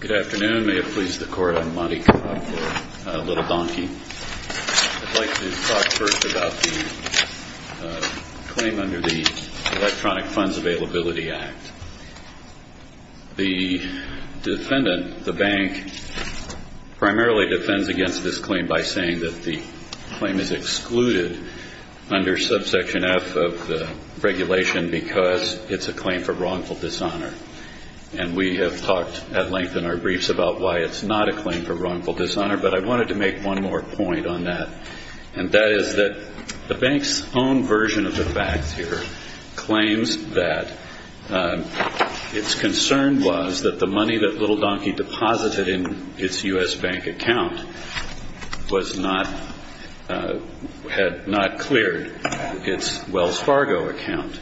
Good afternoon. May it please the Court, I'm Monty Cobb for Little Donkey. I'd like to talk first about the claim under the Electronic Funds Availability Act. The defendant, the bank, primarily defends against this claim by saying that the claim is excluded under subsection F of the regulation because it's a claim for wrongful dishonor. And we have talked at length in our briefs about why it's not a claim for wrongful dishonor, but I wanted to make one more point on that. And that is that the bank's own version of the facts here claims that its concern was that the money that Little Donkey deposited in its U.S. bank account had not cleared its Wells Fargo account.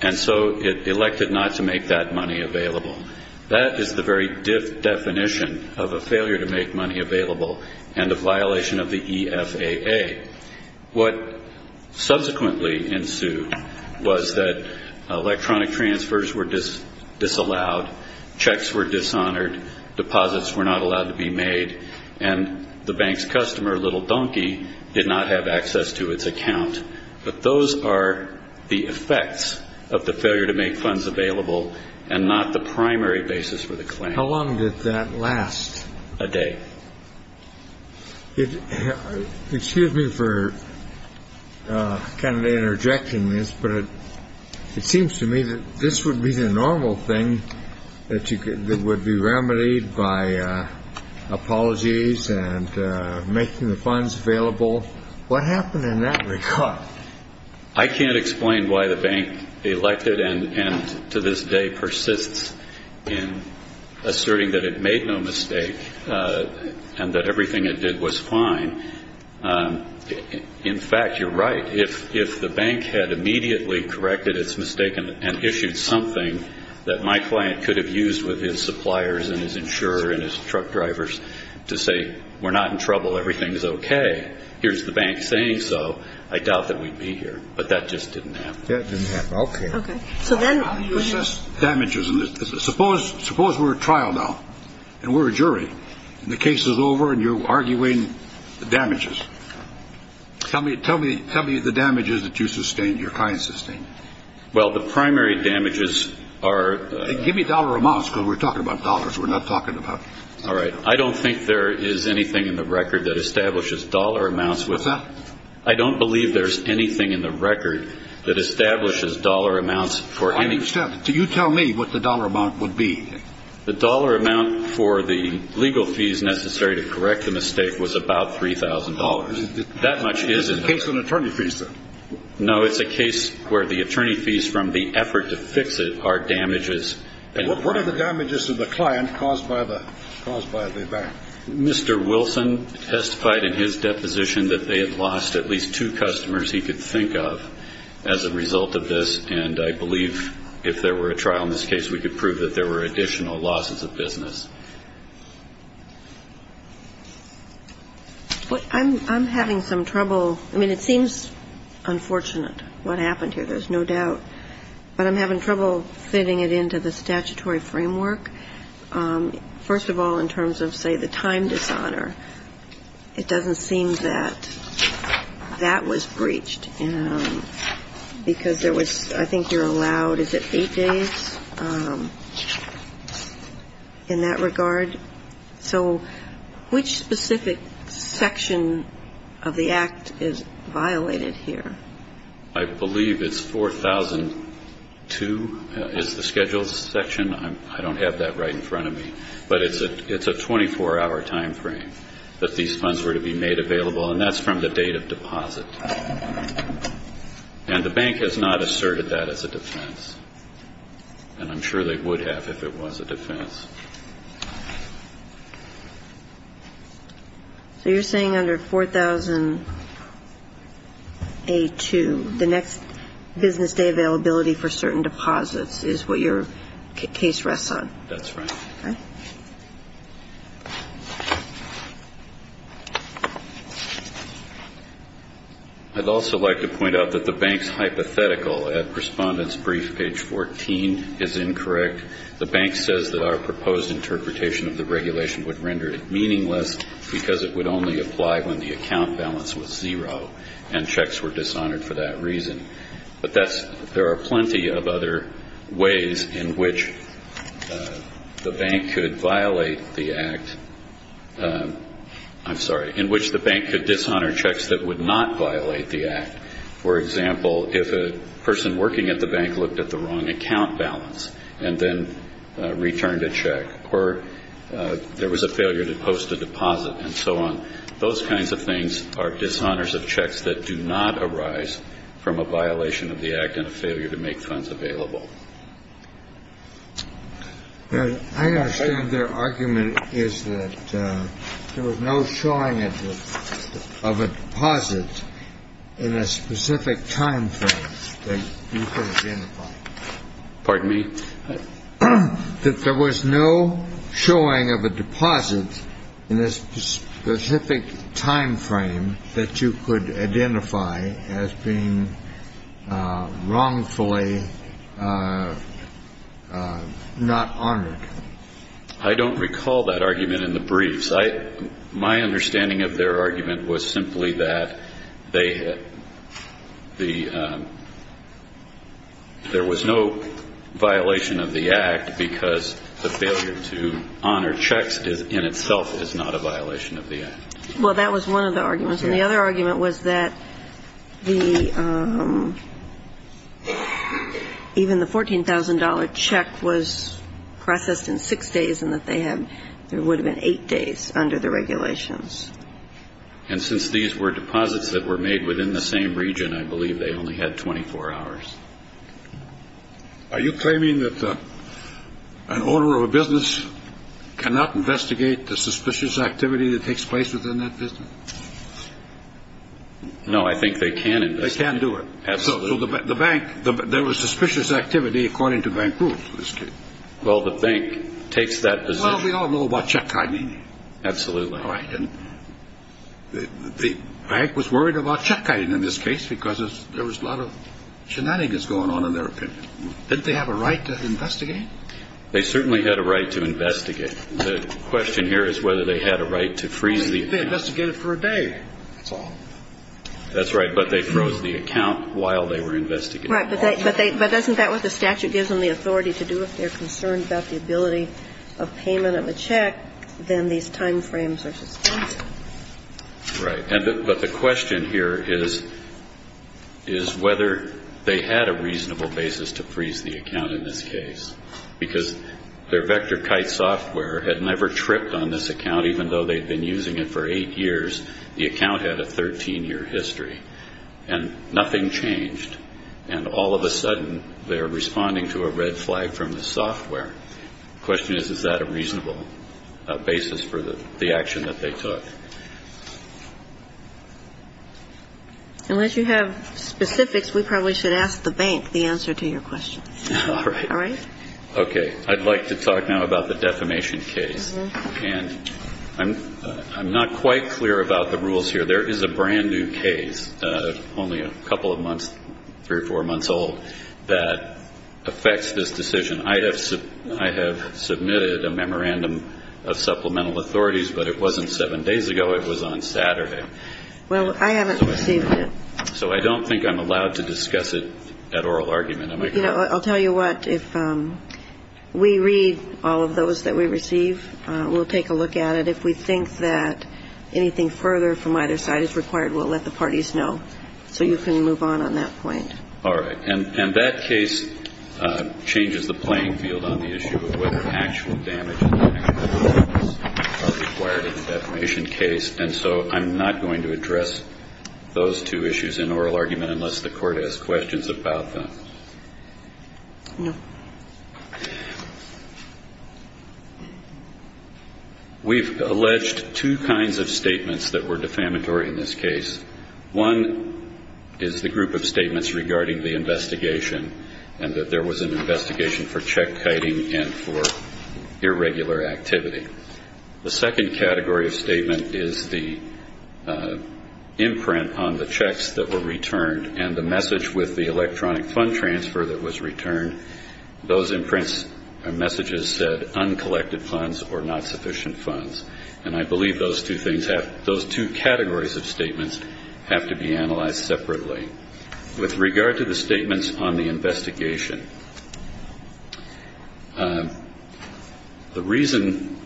And so it elected not to make that money available. That is the very definition of a failure to make money available and a violation of the EFAA. What subsequently ensued was that electronic transfers were disallowed, checks were dishonored, deposits were not allowed to be made, and the bank's customer, Little Donkey, did not have access to its account. But those are the effects of the failure to make funds available and not the primary basis for the claim. How long did that last? A day. Excuse me for kind of interjecting this, but it seems to me that this would be the normal thing that would be remedied by apologies and making the funds available. What happened in that regard? I can't explain why the bank elected and to this day persists in asserting that it made no mistake and that everything it did was fine. In fact, you're right. If the bank had immediately corrected its mistake and issued something that my client could have used with his suppliers and his insurer and his truck drivers to say, we're not in trouble, everything's okay, here's the bank saying so, I doubt that we'd be here. But that just didn't happen. That didn't happen. Okay. Okay. So then. You assess damages. Suppose we're at trial now and we're a jury and the case is over and you're arguing the damages. Tell me the damages that you sustained, your client sustained. Well, the primary damages are. Give me dollar amounts because we're talking about dollars, we're not talking about. All right. I don't think there is anything in the record that establishes dollar amounts. What's that? I don't believe there's anything in the record that establishes dollar amounts for any. I understand. So you tell me what the dollar amount would be. The dollar amount for the legal fees necessary to correct the mistake was about $3,000. That much isn't. It's a case on attorney fees, then. No, it's a case where the attorney fees from the effort to fix it are damages. What are the damages to the client caused by the bank? Mr. Wilson testified in his deposition that they had lost at least two customers he could think of as a result of this. And I believe if there were a trial in this case, we could prove that there were additional losses of business. I'm having some trouble. I mean, it seems unfortunate what happened here. There's no doubt. But I'm having trouble fitting it into the statutory framework. First of all, in terms of, say, the time dishonor, it doesn't seem that that was breached because there was, I think you're allowed, is it eight days in that regard? So which specific section of the Act is violated here? I believe it's 4002 is the schedule section. I don't have that right in front of me. But it's a 24-hour time frame that these funds were to be made available, and that's from the date of deposit. And the bank has not asserted that as a defense. And I'm sure they would have if it was a defense. So you're saying under 4002, the next business day availability for certain deposits is what your case rests on? That's right. Okay. I'd also like to point out that the bank's hypothetical at Respondent's Brief, page 14, is incorrect. The bank says that our proposed interpretation of the regulation would render it meaningless because it would only apply when the account balance was zero and checks were dishonored for that reason. But there are plenty of other ways in which the bank could violate the Act. I'm sorry, in which the bank could dishonor checks that would not violate the Act. For example, if a person working at the bank looked at the wrong account balance and then returned a check or there was a failure to post a deposit and so on, those kinds of things are dishonors of checks that do not arise from a violation of the Act and a failure to make funds available. I understand their argument is that there was no showing of a deposit in a specific time frame that you could identify. Pardon me? That there was no showing of a deposit in a specific time frame that you could identify as being wrongfully not honored. I don't recall that argument in the briefs. My understanding of their argument was simply that they had the – there was no violation of the Act because the failure to honor checks in itself is not a violation of the Act. Well, that was one of the arguments. And the other argument was that the – even the $14,000 check was processed in six days and that they had – there would have been eight days under the regulations. And since these were deposits that were made within the same region, I believe they only had 24 hours. Are you claiming that an owner of a business cannot investigate the suspicious activity that takes place within that business? No, I think they can investigate. They can do it. Absolutely. So the bank – there was suspicious activity according to bank rules in this case. Well, the bank takes that position. Well, we all know about check hiding. Absolutely. Well, I didn't – the bank was worried about check hiding in this case because there was a lot of shenanigans going on in their opinion. Didn't they have a right to investigate? They certainly had a right to investigate. The question here is whether they had a right to freeze the account. They investigated for a day. That's all. That's right. But they froze the account while they were investigating. Right. But they – but doesn't that what the statute gives them the authority to do? If they're concerned about the ability of payment of a check, then these time frames are suspended. Right. But the question here is whether they had a reasonable basis to freeze the account in this case because their VectorKite software had never tripped on this account even though they'd been using it for eight years. The account had a 13-year history. And nothing changed. And all of a sudden, they're responding to a red flag from the software. The question is, is that a reasonable basis for the action that they took? Unless you have specifics, we probably should ask the bank the answer to your question. All right. All right? Okay. I'd like to talk now about the defamation case. And I'm not quite clear about the rules here. There is a brand-new case, only a couple of months, three or four months old, that affects this decision. I have submitted a memorandum of supplemental authorities, but it wasn't seven days ago. It was on Saturday. Well, I haven't received it. So I don't think I'm allowed to discuss it at oral argument. You know, I'll tell you what. If we read all of those that we receive, we'll take a look at it. But if we think that anything further from either side is required, we'll let the parties know. So you can move on on that point. All right. And that case changes the playing field on the issue of whether actual damage and actual damages are required in the defamation case. And so I'm not going to address those two issues in oral argument unless the Court has questions about them. No. We've alleged two kinds of statements that were defamatory in this case. One is the group of statements regarding the investigation and that there was an investigation for check-kiting and for irregular activity. The second category of statement is the imprint on the checks that were returned and the message with the electronic fund transfer that was returned. Those imprints or messages said uncollected funds or not sufficient funds. And I believe those two categories of statements have to be analyzed separately. With regard to the statements on the investigation, the reason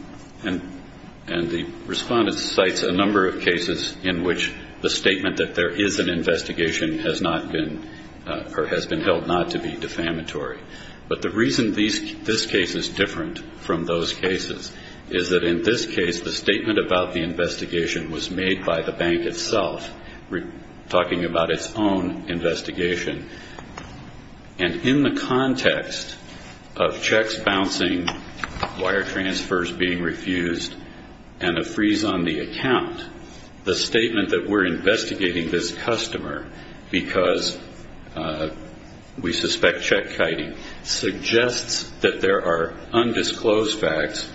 and the respondent cites a number of cases in which the statement that there is an investigation has not been or has been held not to be defamatory. But the reason this case is different from those cases is that in this case, the statement about the investigation was made by the bank itself, talking about its own investigation. And in the context of checks bouncing, wire transfers being refused, and a freeze on the account, the statement that we're investigating this customer because we suspect check-kiting suggests that there are undisclosed facts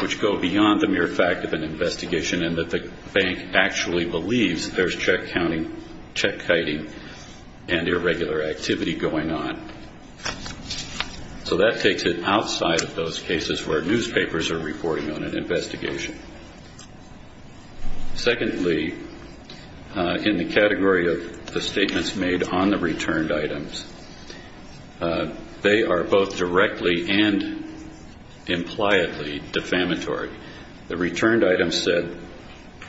which go beyond the mere fact of an investigation and that the bank actually believes there's check-counting, check-kiting, and irregular activity going on. So that takes it outside of those cases where newspapers are reporting on an investigation. Secondly, in the category of the statements made on the returned items, they are both directly and impliedly defamatory. The returned items said,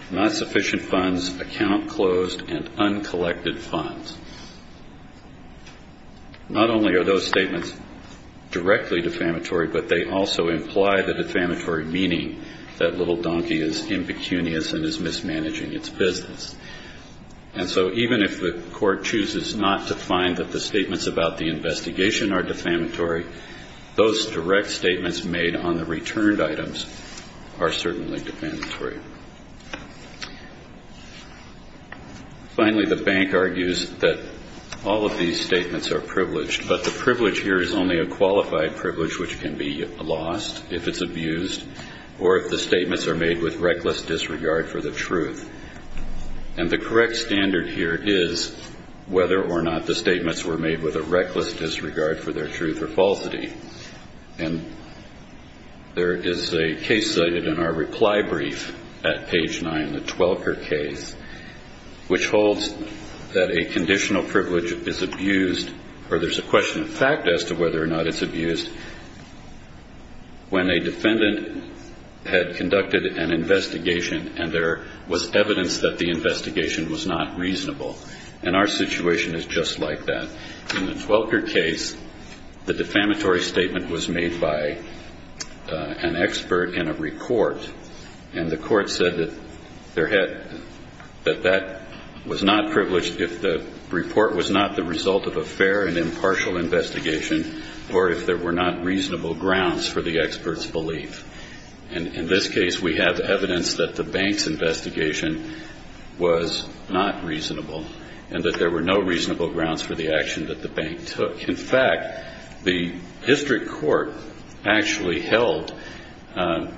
not sufficient funds, account closed, and uncollected funds. Not only are those statements directly defamatory, but they also imply the defamatory meaning that Little Donkey is impecunious and is mismanaging its business. And so even if the court chooses not to find that the statements about the investigation are defamatory, those direct statements made on the returned items are certainly defamatory. Finally, the bank argues that all of these statements are privileged, but the privilege here is only a qualified privilege which can be lost if it's abused or if the statements are made with reckless disregard for the truth. And the correct standard here is whether or not the statements were made with a reckless disregard for their truth or falsity. And there is a case cited in our reply brief at page 9, the Twelker case, which holds that a conditional privilege is abused, or there's a question of fact as to whether or not it's abused, when a defendant had conducted an investigation and there was evidence that the investigation was not reasonable. And our situation is just like that. In the Twelker case, the defamatory statement was made by an expert in a report, and the court said that that was not privileged if the report was not the result of a fair and impartial investigation, or if there were not reasonable grounds for the expert's belief. And in this case, we have evidence that the bank's investigation was not reasonable, and that there were no reasonable grounds for the action that the bank took. In fact, the district court actually held,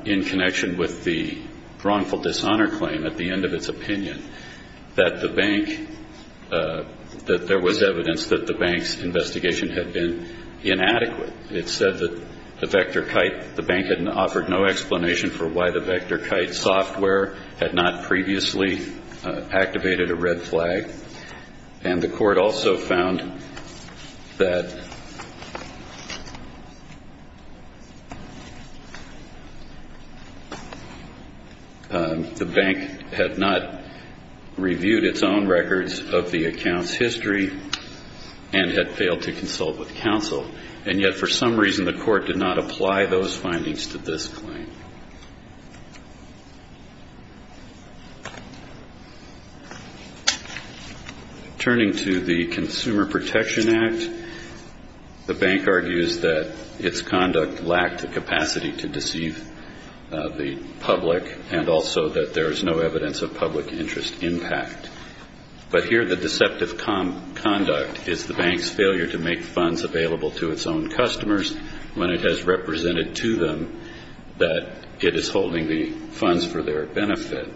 in connection with the wrongful dishonor claim at the end of its opinion, that the bank, that there was evidence that the bank's investigation had been inadequate. It said that the VectorKite, the bank had offered no explanation for why the VectorKite software had not previously activated a red flag. And the court also found that the bank had not reviewed its own records of the account's history and had failed to consult with counsel. And yet, for some reason, the court did not apply those findings to this claim. Turning to the Consumer Protection Act, the bank argues that its conduct lacked the capacity to deceive the public, and also that there is no evidence of public interest impact. But here the deceptive conduct is the bank's failure to make funds available to its own customers when it has represented to them that it is holding the funds for their benefit.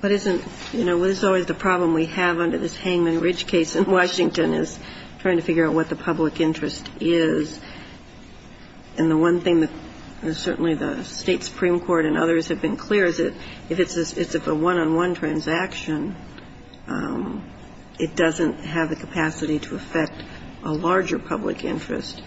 But isn't, you know, what is always the problem we have under this Hangman Ridge case in Washington is trying to figure out what the public interest is. And the one thing that certainly the State Supreme Court and others have been clear is that if it's a one-on-one transaction, it doesn't have the capacity to affect a larger public interest.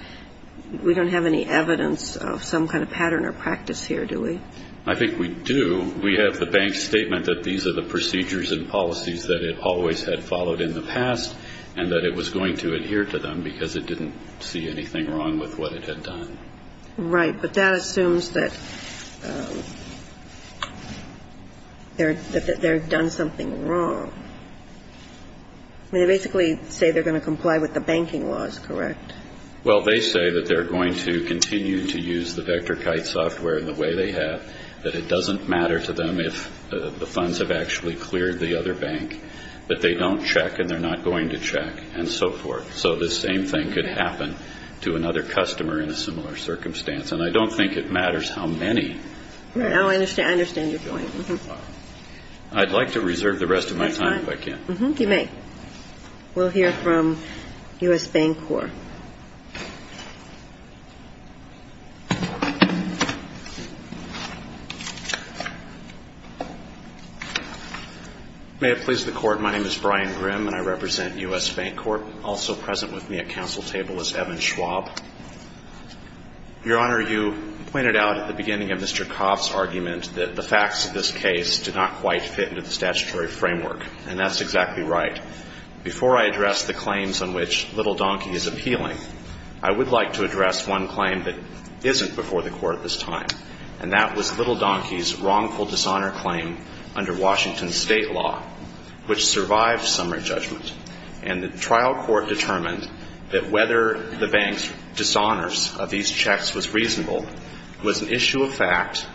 We don't have any evidence of some kind of pattern or practice here, do we? I think we do. We have the bank's statement that these are the procedures and policies that it always had followed in the past and that it was going to adhere to them because it didn't see anything wrong with what it had done. Right. But that assumes that they're done something wrong. They basically say they're going to comply with the banking laws, correct? Well, they say that they're going to continue to use the VectorKite software in the way they have, that it doesn't matter to them if the funds have actually cleared the other bank, that they don't check and they're not going to check and so forth. So the same thing could happen to another customer in a similar circumstance. And I don't think it matters how many. I understand your point. I'd like to reserve the rest of my time if I can. You may. We'll hear from U.S. Bank Corp. May it please the Court, my name is Brian Grimm and I represent U.S. Bank Corp. Also present with me at council table is Evan Schwab. Your Honor, you pointed out at the beginning of Mr. Kopp's argument that the facts of this case do not quite fit into the statutory framework, and that's exactly right. Before I address the claims on which Little Donkey is appealing, I would like to address one claim that isn't before the Court at this time, and that was Little Donkey's wrongful dishonor claim under Washington state law, which survived summary judgment. And the trial court determined that whether the bank's dishonors of these checks was reasonable was an issue of fact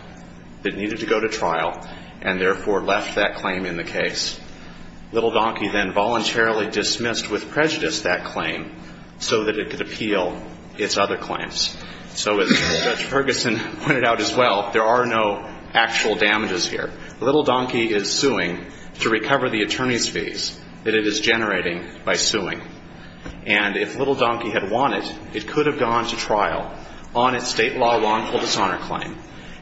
that needed to go to trial, and therefore left that claim in the case. Little Donkey then voluntarily dismissed with prejudice that claim so that it could appeal its other claims. So as Judge Ferguson pointed out as well, there are no actual damages here. Little Donkey is suing to recover the attorney's fees that it is generating by suing. And if Little Donkey had won it, it could have gone to trial on its state law wrongful dishonor claim.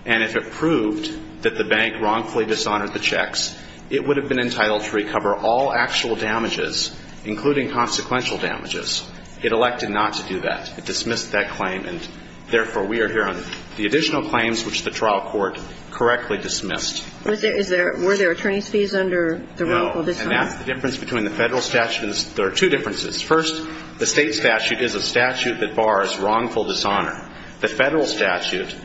And if it proved that the bank wrongfully dishonored the checks, it would have been entitled to recover all actual damages, including consequential damages. It elected not to do that. It dismissed that claim, and therefore we are here on the additional claims which the trial court correctly dismissed. Was there – were there attorney's fees under the wrongful dishonor? No. And that's the difference between the federal statutes. There are two differences. First, the state statute is a statute that bars wrongful dishonor. The federal statute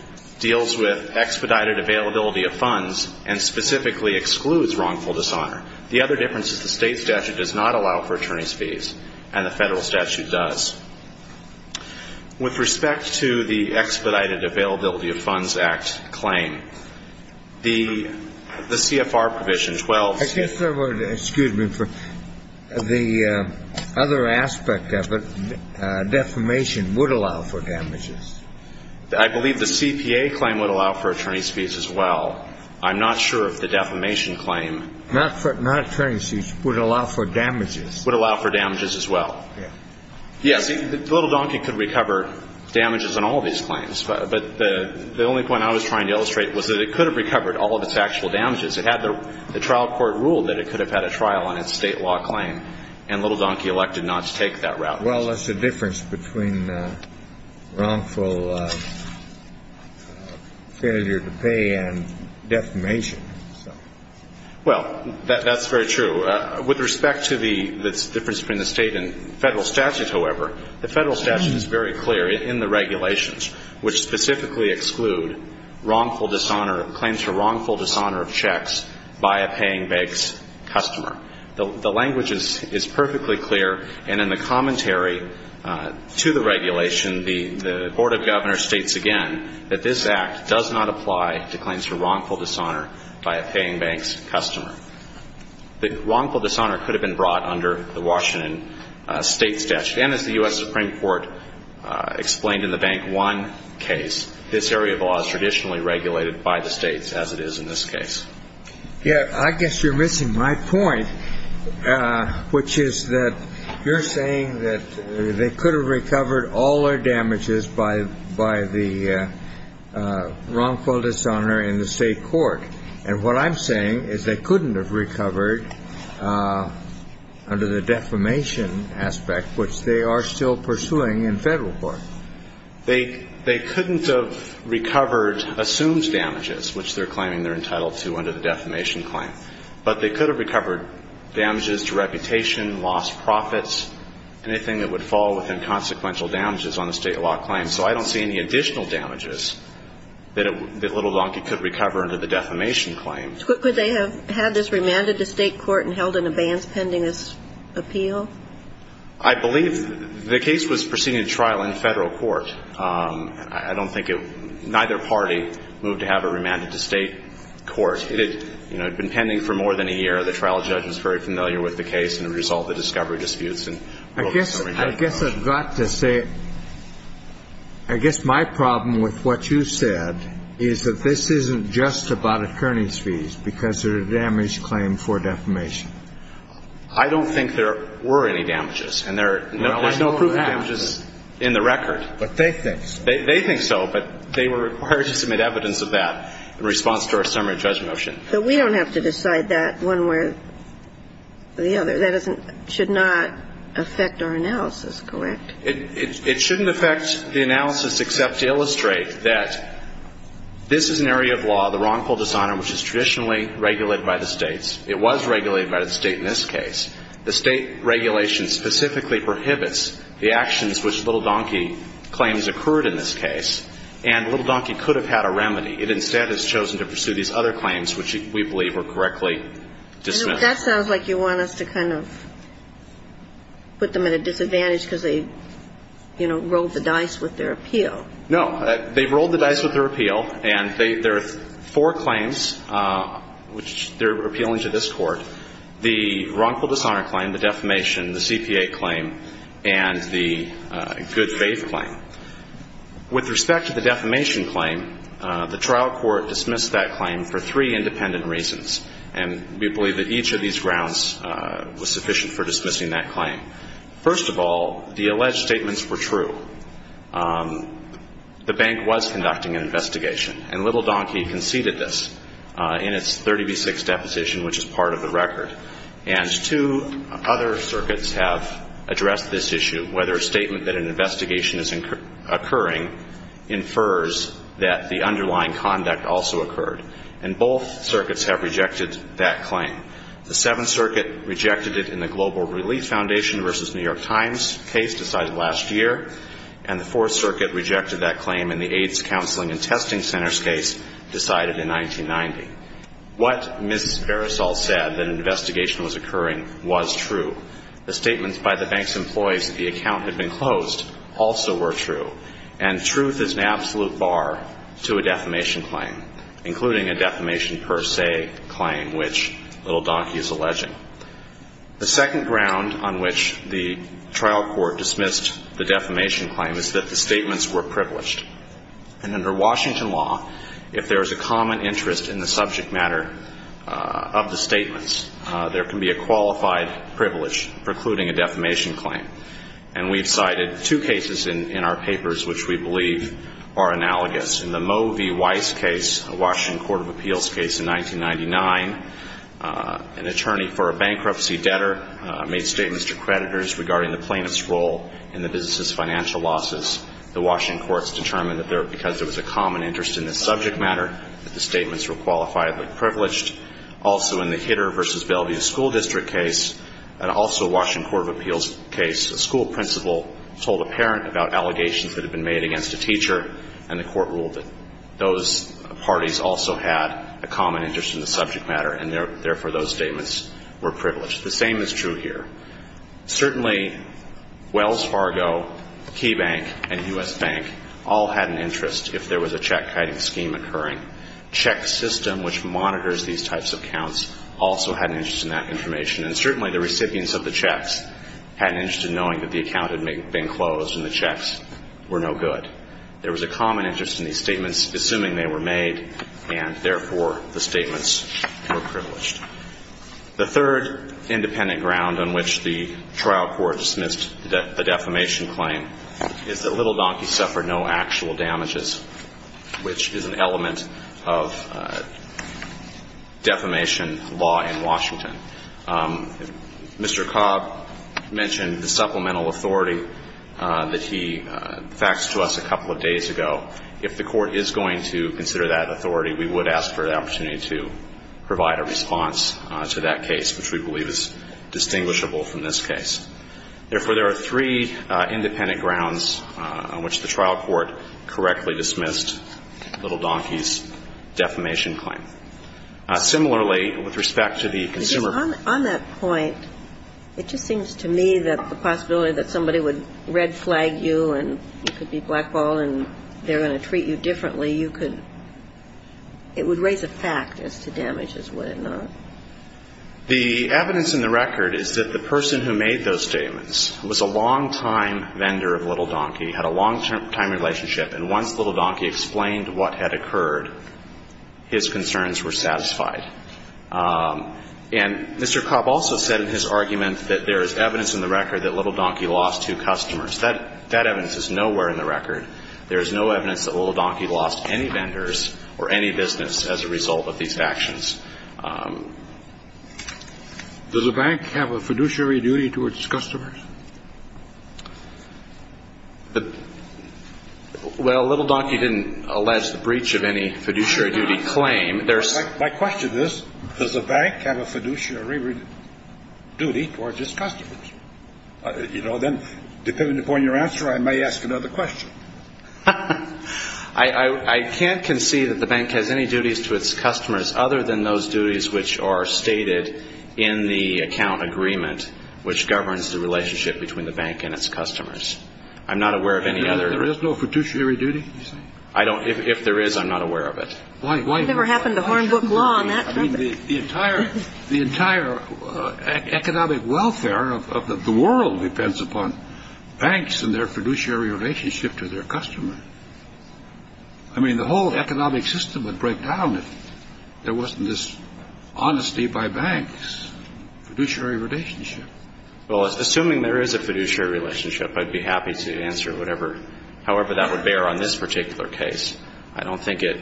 deals with expedited availability of funds and specifically excludes wrongful dishonor. The other difference is the state statute does not allow for attorney's fees, and the federal statute does. With respect to the Expedited Availability of Funds Act claim, the CFR provision, excuse me, the other aspect of it, defamation, would allow for damages. I believe the CPA claim would allow for attorney's fees as well. I'm not sure if the defamation claim – Not attorney's fees, would allow for damages. Would allow for damages as well. Yes. Yes. Little Donkey could recover damages on all these claims, but the only point I was trying to illustrate was that it could have recovered all of its actual damages. It had the trial court rule that it could have had a trial on its state law claim, and Little Donkey elected not to take that route. Well, that's the difference between wrongful failure to pay and defamation. Well, that's very true. With respect to the difference between the state and federal statute, however, the federal statute is very clear in the regulations, which specifically exclude wrongful dishonor, claims for wrongful dishonor of checks by a paying bank's customer. The language is perfectly clear, and in the commentary to the regulation, the Board of Governors states again that this Act does not apply to claims for wrongful dishonor by a paying bank's customer. The wrongful dishonor could have been brought under the Washington state statute, and as the U.S. Supreme Court explained in the Bank One case, this area of law is traditionally regulated by the states, as it is in this case. Yes, I guess you're missing my point, which is that you're saying that they could have recovered all their damages by the wrongful dishonor in the state court, and what I'm saying is they couldn't have recovered under the defamation aspect, which they are still pursuing in federal court. They couldn't have recovered assumed damages, which they're claiming they're entitled to under the defamation claim, but they could have recovered damages to reputation, lost profits, anything that would fall within consequential damages on a state law claim. So I don't see any additional damages that Little Donkey could recover under the defamation claim. Could they have had this remanded to state court and held in abeyance pending this appeal? I believe the case was proceeding to trial in federal court. I don't think it – neither party moved to have it remanded to state court. It had, you know, been pending for more than a year. The trial judge was very familiar with the case and the result of the discovery disputes. I guess I've got to say, I guess my problem with what you said is that this isn't just about attorneys' fees because they're a damaged claim for defamation. I don't think there were any damages. And there's no proof of damages in the record. But they think so. They think so, but they were required to submit evidence of that in response to our summary of judgment motion. But we don't have to decide that one way or the other. That doesn't – should not affect our analysis, correct? It shouldn't affect the analysis except to illustrate that this is an area of law, the wrongful dishonor, which is traditionally regulated by the states. It was regulated by the state in this case. The state regulation specifically prohibits the actions which Little Donkey claims occurred in this case. And Little Donkey could have had a remedy. It instead has chosen to pursue these other claims, which we believe were correctly dismissed. That sounds like you want us to kind of put them at a disadvantage because they, you know, rolled the dice with their appeal. No. They rolled the dice with their appeal. And there are four claims which they're appealing to this Court. The wrongful dishonor claim, the defamation, the CPA claim, and the good faith claim. With respect to the defamation claim, the trial court dismissed that claim for three independent reasons. And we believe that each of these grounds was sufficient for dismissing that claim. First of all, the alleged statements were true. The bank was conducting an investigation. And Little Donkey conceded this in its 30B6 deposition, which is part of the record. And two other circuits have addressed this issue, whether a statement that an investigation is occurring infers that the underlying conduct also occurred. And both circuits have rejected that claim. The Seventh Circuit rejected it in the Global Relief Foundation v. New York Times case decided last year. And the Fourth Circuit rejected that claim in the AIDS Counseling and Testing Centers case decided in 1990. What Ms. Beresall said, that an investigation was occurring, was true. The statements by the bank's employees that the account had been closed also were true. And truth is an absolute bar to a defamation claim, including a defamation per se claim, which Little Donkey is alleging. The second ground on which the trial court dismissed the defamation claim is that the statements were privileged. And under Washington law, if there is a common interest in the subject matter of the statements, there can be a qualified privilege precluding a defamation claim. And we've cited two cases in our papers which we believe are analogous. In the Moe v. Weiss case, a Washington court of appeals case in 1999, an attorney for a bankruptcy debtor made statements to creditors regarding the plaintiff's role in the business's financial losses. The Washington courts determined that because there was a common interest in the subject matter, that the statements were qualifiably privileged. Also in the Hitter v. Bellevue School District case, and also a Washington court of appeals case, a school principal told a parent about allegations that had been made against a teacher, and the court ruled that those parties also had a common interest in the subject matter, and therefore those statements were privileged. The same is true here. Certainly, Wells Fargo, Key Bank, and U.S. Bank all had an interest if there was a check-kiting scheme occurring. Check system, which monitors these types of counts, also had an interest in that information. And certainly the recipients of the checks had an interest in knowing that the account had been closed and the checks were no good. There was a common interest in these statements, assuming they were made, and therefore the statements were privileged. The third independent ground on which the trial court dismissed the defamation claim is that Little Donkeys suffered no actual damages, which is an element of defamation law in Washington. Mr. Cobb mentioned the supplemental authority that he faxed to us a couple of days ago. If the court is going to consider that authority, we would ask for an opportunity to provide a response to that case, which we believe is distinguishable from this case. Therefore, there are three independent grounds on which the trial court correctly dismissed Little Donkeys' defamation claim. Similarly, with respect to the consumer ---- Because on that point, it just seems to me that the possibility that somebody would red-flag you and you could be blackballed and they're going to treat you differently, you could ---- it would raise a fact as to damages, would it not? The evidence in the record is that the person who made those statements was a long- time vendor of Little Donkey, had a long-time relationship. And once Little Donkey explained what had occurred, his concerns were satisfied. And Mr. Cobb also said in his argument that there is evidence in the record that Little Donkey lost two customers. That evidence is nowhere in the record. There is no evidence that Little Donkey lost any vendors or any business as a result of these actions. Does the bank have a fiduciary duty towards customers? Well, Little Donkey didn't allege the breach of any fiduciary duty claim. There's ---- My question is, does the bank have a fiduciary duty towards its customers? You know, then, depending upon your answer, I may ask another question. I can't concede that the bank has any duties to its customers other than those duties which are stated in the account agreement which governs the relationship between the bank and its customers. I'm not aware of any other ---- There is no fiduciary duty, you say? I don't ---- If there is, I'm not aware of it. Why ---- It never happened to Hornbook Law on that topic. The entire economic welfare of the world depends upon banks and their fiduciary relationship to their customers. I mean, the whole economic system would break down if there wasn't this honesty by banks, fiduciary relationship. Well, assuming there is a fiduciary relationship, I'd be happy to answer whatever ---- however that would bear on this particular case. I don't think it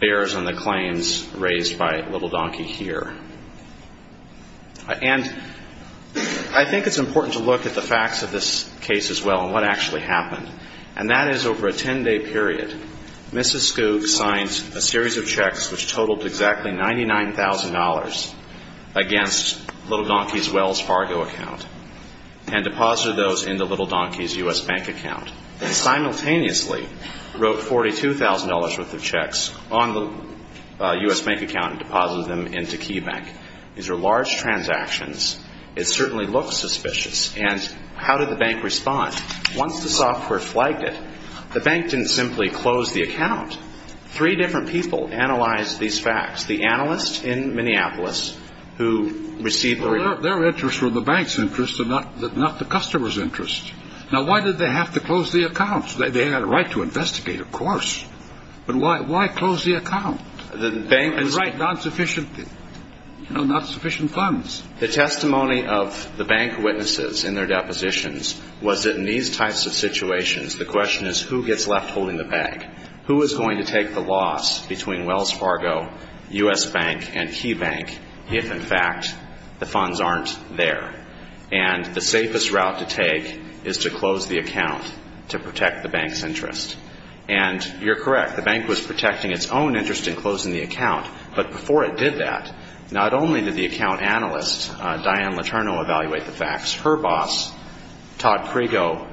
bears on the claims raised by Little Donkey here. And I think it's important to look at the facts of this case as well and what actually happened, and that is over a 10-day period, Mrs. Scoop signed a series of checks which totaled exactly $99,000 against Little Donkey's Wells Fargo account and deposited those into Little Donkey's U.S. bank account and simultaneously wrote $42,000 worth of checks on the U.S. bank account and deposited them into KeyBank. These are large transactions. It certainly looks suspicious. And how did the bank respond? Once the software flagged it, the bank didn't simply close the account. Three different people analyzed these facts. The analyst in Minneapolis who received the report. Well, their interests were the bank's interests and not the customer's interests. Now, why did they have to close the account? They had a right to investigate, of course. But why close the account? Right, not sufficient funds. The testimony of the bank witnesses in their depositions was that in these types of situations, the question is who gets left holding the bag. Who is going to take the loss between Wells Fargo, U.S. Bank, and KeyBank if, in fact, the funds aren't there? And the safest route to take is to close the account to protect the bank's interest. And you're correct. The bank was protecting its own interest in closing the account. But before it did that, not only did the account analyst, Diane Letourneau, evaluate the facts, her boss, Todd Prigo,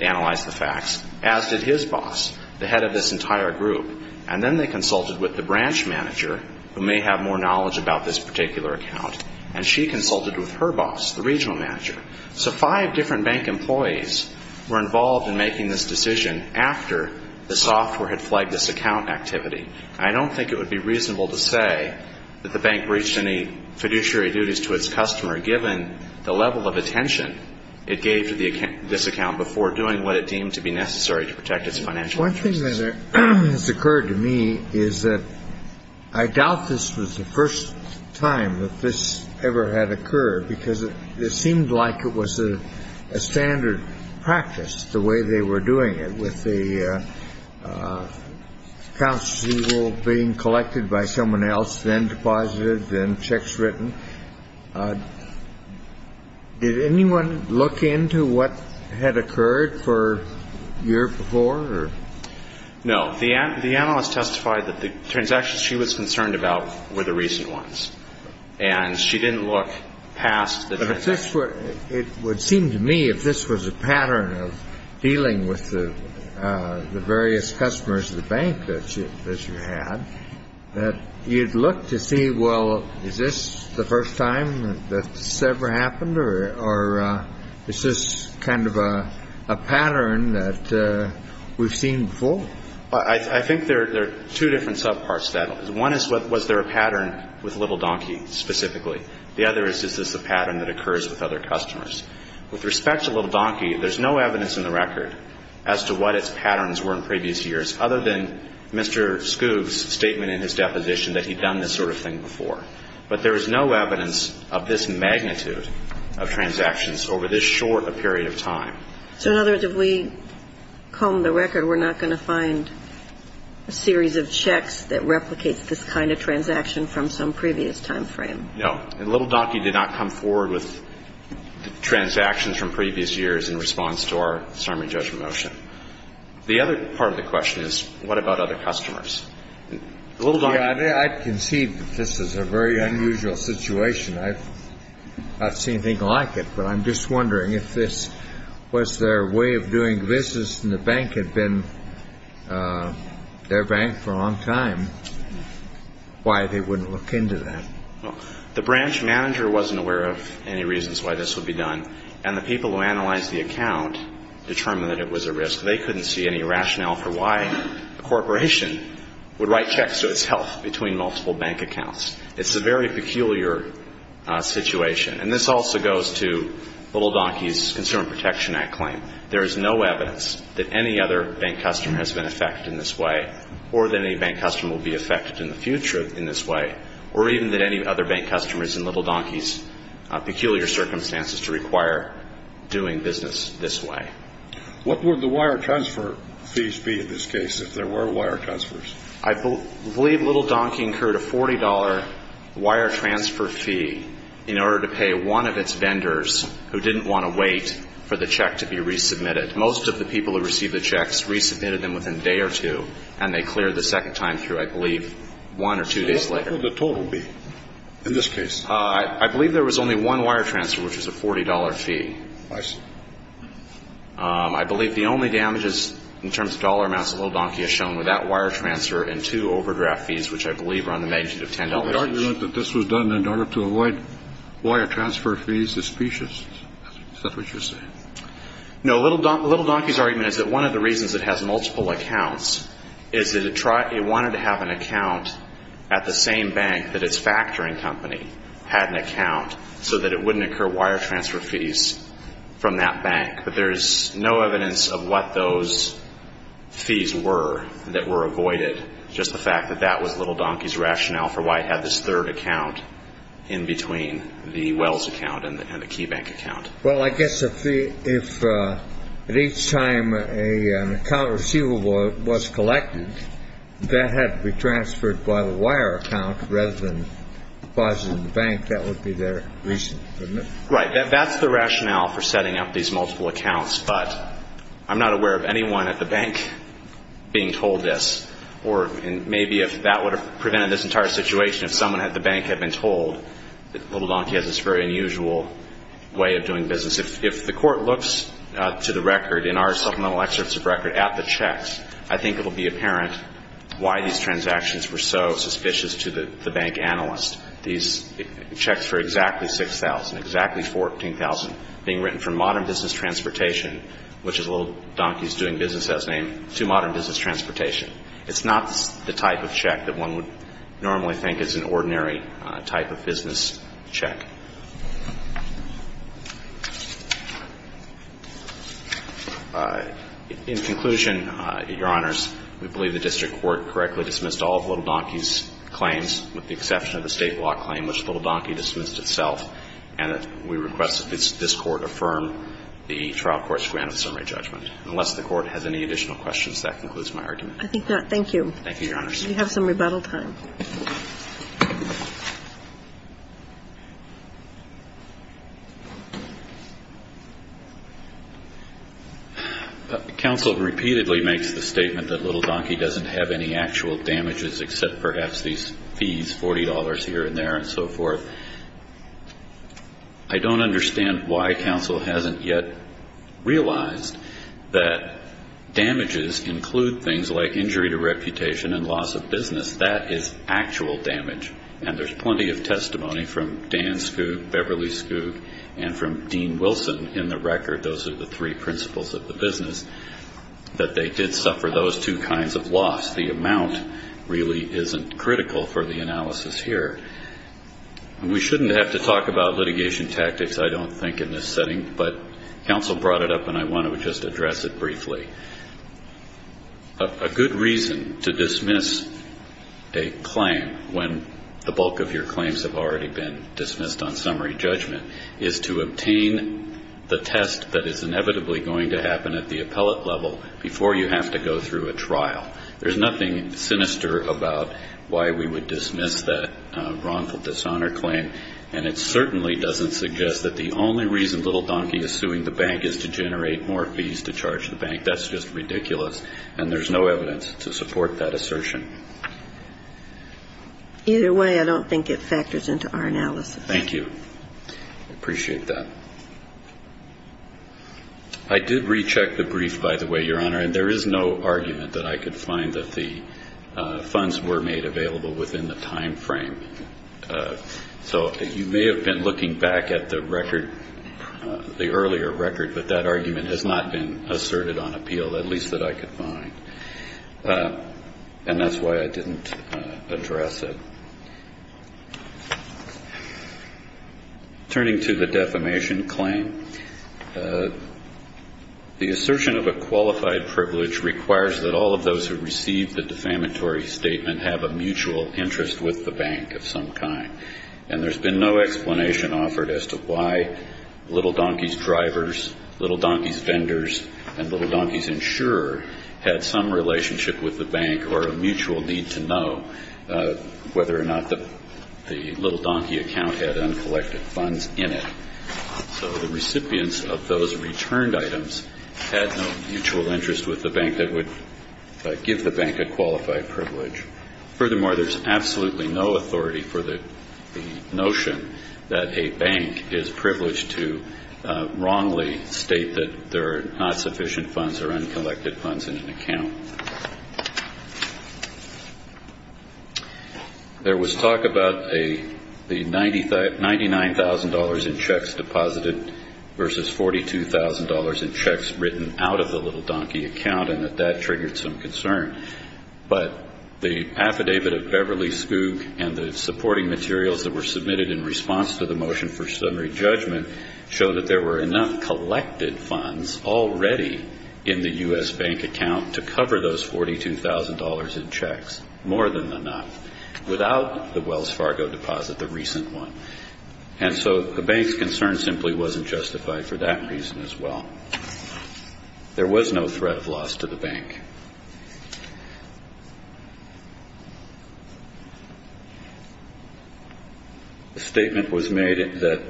analyzed the facts, as did his boss, the head of this entire group. And then they consulted with the branch manager who may have more knowledge about this particular account. And she consulted with her boss, the regional manager. So five different bank employees were involved in making this decision after the software had flagged this account activity. And I don't think it would be reasonable to say that the bank breached any fiduciary duties to its customer given the level of attention it gave to this account before doing what it deemed to be necessary to protect its financial interests. One thing that has occurred to me is that I doubt this was the first time that this ever had occurred because it seemed like it was a standard practice the way they were doing it with the accounts being collected by someone else, then deposited, then checks written. Did anyone look into what had occurred for a year before? No. The analyst testified that the transactions she was concerned about were the recent ones. And she didn't look past the transactions. But it would seem to me if this was a pattern of dealing with the various customers of the bank that you had, that you'd look to see, well, is this the first time that this ever happened? Or is this kind of a pattern that we've seen before? I think there are two different subparts to that. One is, was there a pattern with Little Donkey specifically? The other is, is this a pattern that occurs with other customers? With respect to Little Donkey, there's no evidence in the record as to what its patterns were in previous years other than Mr. Scoob's statement in his deposition that he'd done this sort of thing before. But there is no evidence of this magnitude of transactions over this short a period of time. So in other words, if we comb the record, we're not going to find a series of checks that replicates this kind of transaction from some previous timeframe? No. And Little Donkey did not come forward with transactions from previous years in response to our summary judgment motion. The other part of the question is, what about other customers? Little Donkey. I can see that this is a very unusual situation. I've not seen anything like it. But I'm just wondering if this was their way of doing business and the bank had been their bank for a long time, why they wouldn't look into that? The branch manager wasn't aware of any reasons why this would be done. And the people who analyzed the account determined that it was a risk. They couldn't see any rationale for why a corporation would write checks to its health between multiple bank accounts. It's a very peculiar situation. And this also goes to Little Donkey's Consumer Protection Act claim. There is no evidence that any other bank customer has been affected in this way or that any bank customer will be affected in the future in this way or even that any other bank customers in Little Donkey's peculiar circumstances to require doing business this way. What would the wire transfer fees be in this case if there were wire transfers? I believe Little Donkey incurred a $40 wire transfer fee in order to pay one of its vendors who didn't want to wait for the check to be resubmitted. Most of the people who received the checks resubmitted them within a day or two, and they cleared the second time through, I believe, one or two days later. So what would the total be in this case? I believe there was only one wire transfer, which was a $40 fee. I see. I believe the only damages in terms of dollar amounts that Little Donkey has shown were that wire transfer and two overdraft fees, which I believe are on the magnitude of $10 each. The argument that this was done in order to avoid wire transfer fees is specious. Is that what you're saying? No. Little Donkey's argument is that one of the reasons it has multiple accounts is that it wanted to have an account at the same bank that its factoring company had an account so that it wouldn't occur wire transfer fees from that bank. But there's no evidence of what those fees were that were avoided, just the fact that that was Little Donkey's rationale for why it had this third account in between the Wells account and the Key Bank account. Well, I guess if at each time an account receivable was collected, that had to be transferred by the wire account rather than deposited in the bank. I think that would be their reason, wouldn't it? Right. That's the rationale for setting up these multiple accounts. But I'm not aware of anyone at the bank being told this. Or maybe if that would have prevented this entire situation, if someone at the bank had been told that Little Donkey has this very unusual way of doing business. If the Court looks to the record in our supplemental excerpts of record at the checks, I think it will be apparent why these transactions were so suspicious to the bank analyst. These checks for exactly 6,000, exactly 14,000 being written from modern business transportation, which is Little Donkey's doing business as name, to modern business transportation. It's not the type of check that one would normally think is an ordinary type of business check. In conclusion, Your Honors, we believe the District Court correctly dismissed all of Little Donkey's claims, with the exception of the state law claim, which Little Donkey dismissed itself. And we request that this Court affirm the trial court's grant of summary judgment. Unless the Court has any additional questions, that concludes my argument. I think not. Thank you. Thank you, Your Honors. We have some rebuttal time. Counsel repeatedly makes the statement that Little Donkey doesn't have any actual damages except perhaps these fees, $40 here and there and so forth. I don't understand why counsel hasn't yet realized that damages include things like injury to reputation and loss of business. That is actual damage. And there's plenty of testimony from Dan Skoug, Beverly Skoug, and from Dean Wilson in the record, those are the three principles of the business, that they did suffer those two kinds of loss. The amount really isn't critical for the analysis here. We shouldn't have to talk about litigation tactics, I don't think, in this setting, but counsel brought it up and I want to just address it briefly. A good reason to dismiss a claim when the bulk of your claims have already been dismissed on summary judgment is to obtain the test that is inevitably going to happen at the appellate level before you have to go through a trial. There's nothing sinister about why we would dismiss that wrongful dishonor claim and it certainly doesn't suggest that the only reason Little Donkey is suing the bank is to generate more fees to charge the bank. That's just ridiculous and there's no evidence to support that assertion. Either way, I don't think it factors into our analysis. Thank you. I appreciate that. I did recheck the brief, by the way, Your Honor, and there is no argument that I could find that the funds were made available within the time frame. So you may have been looking back at the record, the earlier record, but that argument has not been asserted on appeal, at least that I could find. And that's why I didn't address it. Turning to the defamation claim, the assertion of a qualified privilege requires that all of those who receive the defamatory statement have a mutual interest with the bank of some kind. And there's been no explanation offered as to why Little Donkey's drivers, Little Donkey's vendors, and Little Donkey's insurer had some relationship with the bank or a mutual need to know whether or not the Little Donkey account had uncollected funds in it. So the recipients of those returned items had no mutual interest with the bank that would give the bank a qualified privilege. Furthermore, there's absolutely no authority for the notion that a bank is privileged to wrongly state that there are not sufficient funds or uncollected funds in an account. There was talk about the $99,000 in checks deposited versus $42,000 in checks written out of the Little Donkey account and that that triggered some concern. But the affidavit of Beverly Spook and the supporting materials that were submitted in response to the motion for summary judgment showed that there were enough collected funds already in the U.S. bank account to cover those $42,000 in checks, more than enough, without the Wells Fargo deposit, the recent one. And so the bank's concern simply wasn't justified for that reason as well. There was no threat of loss to the bank. The statement was made that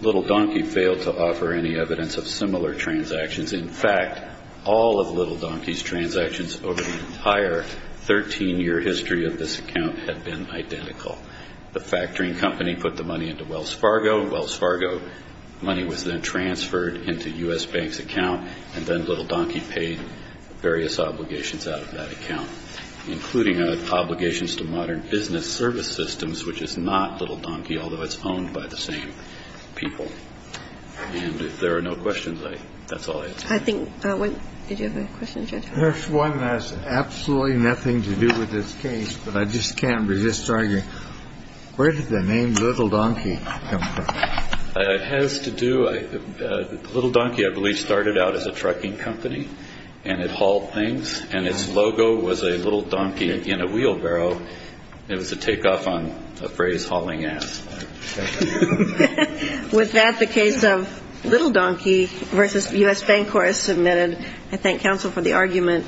Little Donkey failed to offer any evidence of similar transactions. In fact, all of Little Donkey's transactions over the entire 13-year history of this account had been identical. The factoring company put the money into Wells Fargo. Wells Fargo money was then transferred into U.S. bank's account, and then Little Donkey paid various obligations out of that account, including obligations to Modern Business Service Systems, which is not Little Donkey, although it's owned by the same people. And if there are no questions, that's all I ask. I think one – did you have a question, Judge? There's one that has absolutely nothing to do with this case, but I just can't resist arguing. Where did the name Little Donkey come from? It has to do – Little Donkey, I believe, started out as a trucking company, and it hauled things, and its logo was a little donkey in a wheelbarrow. It was a takeoff on a phrase, hauling ass. With that, the case of Little Donkey versus U.S. Bank Corp is submitted. I thank counsel for the argument.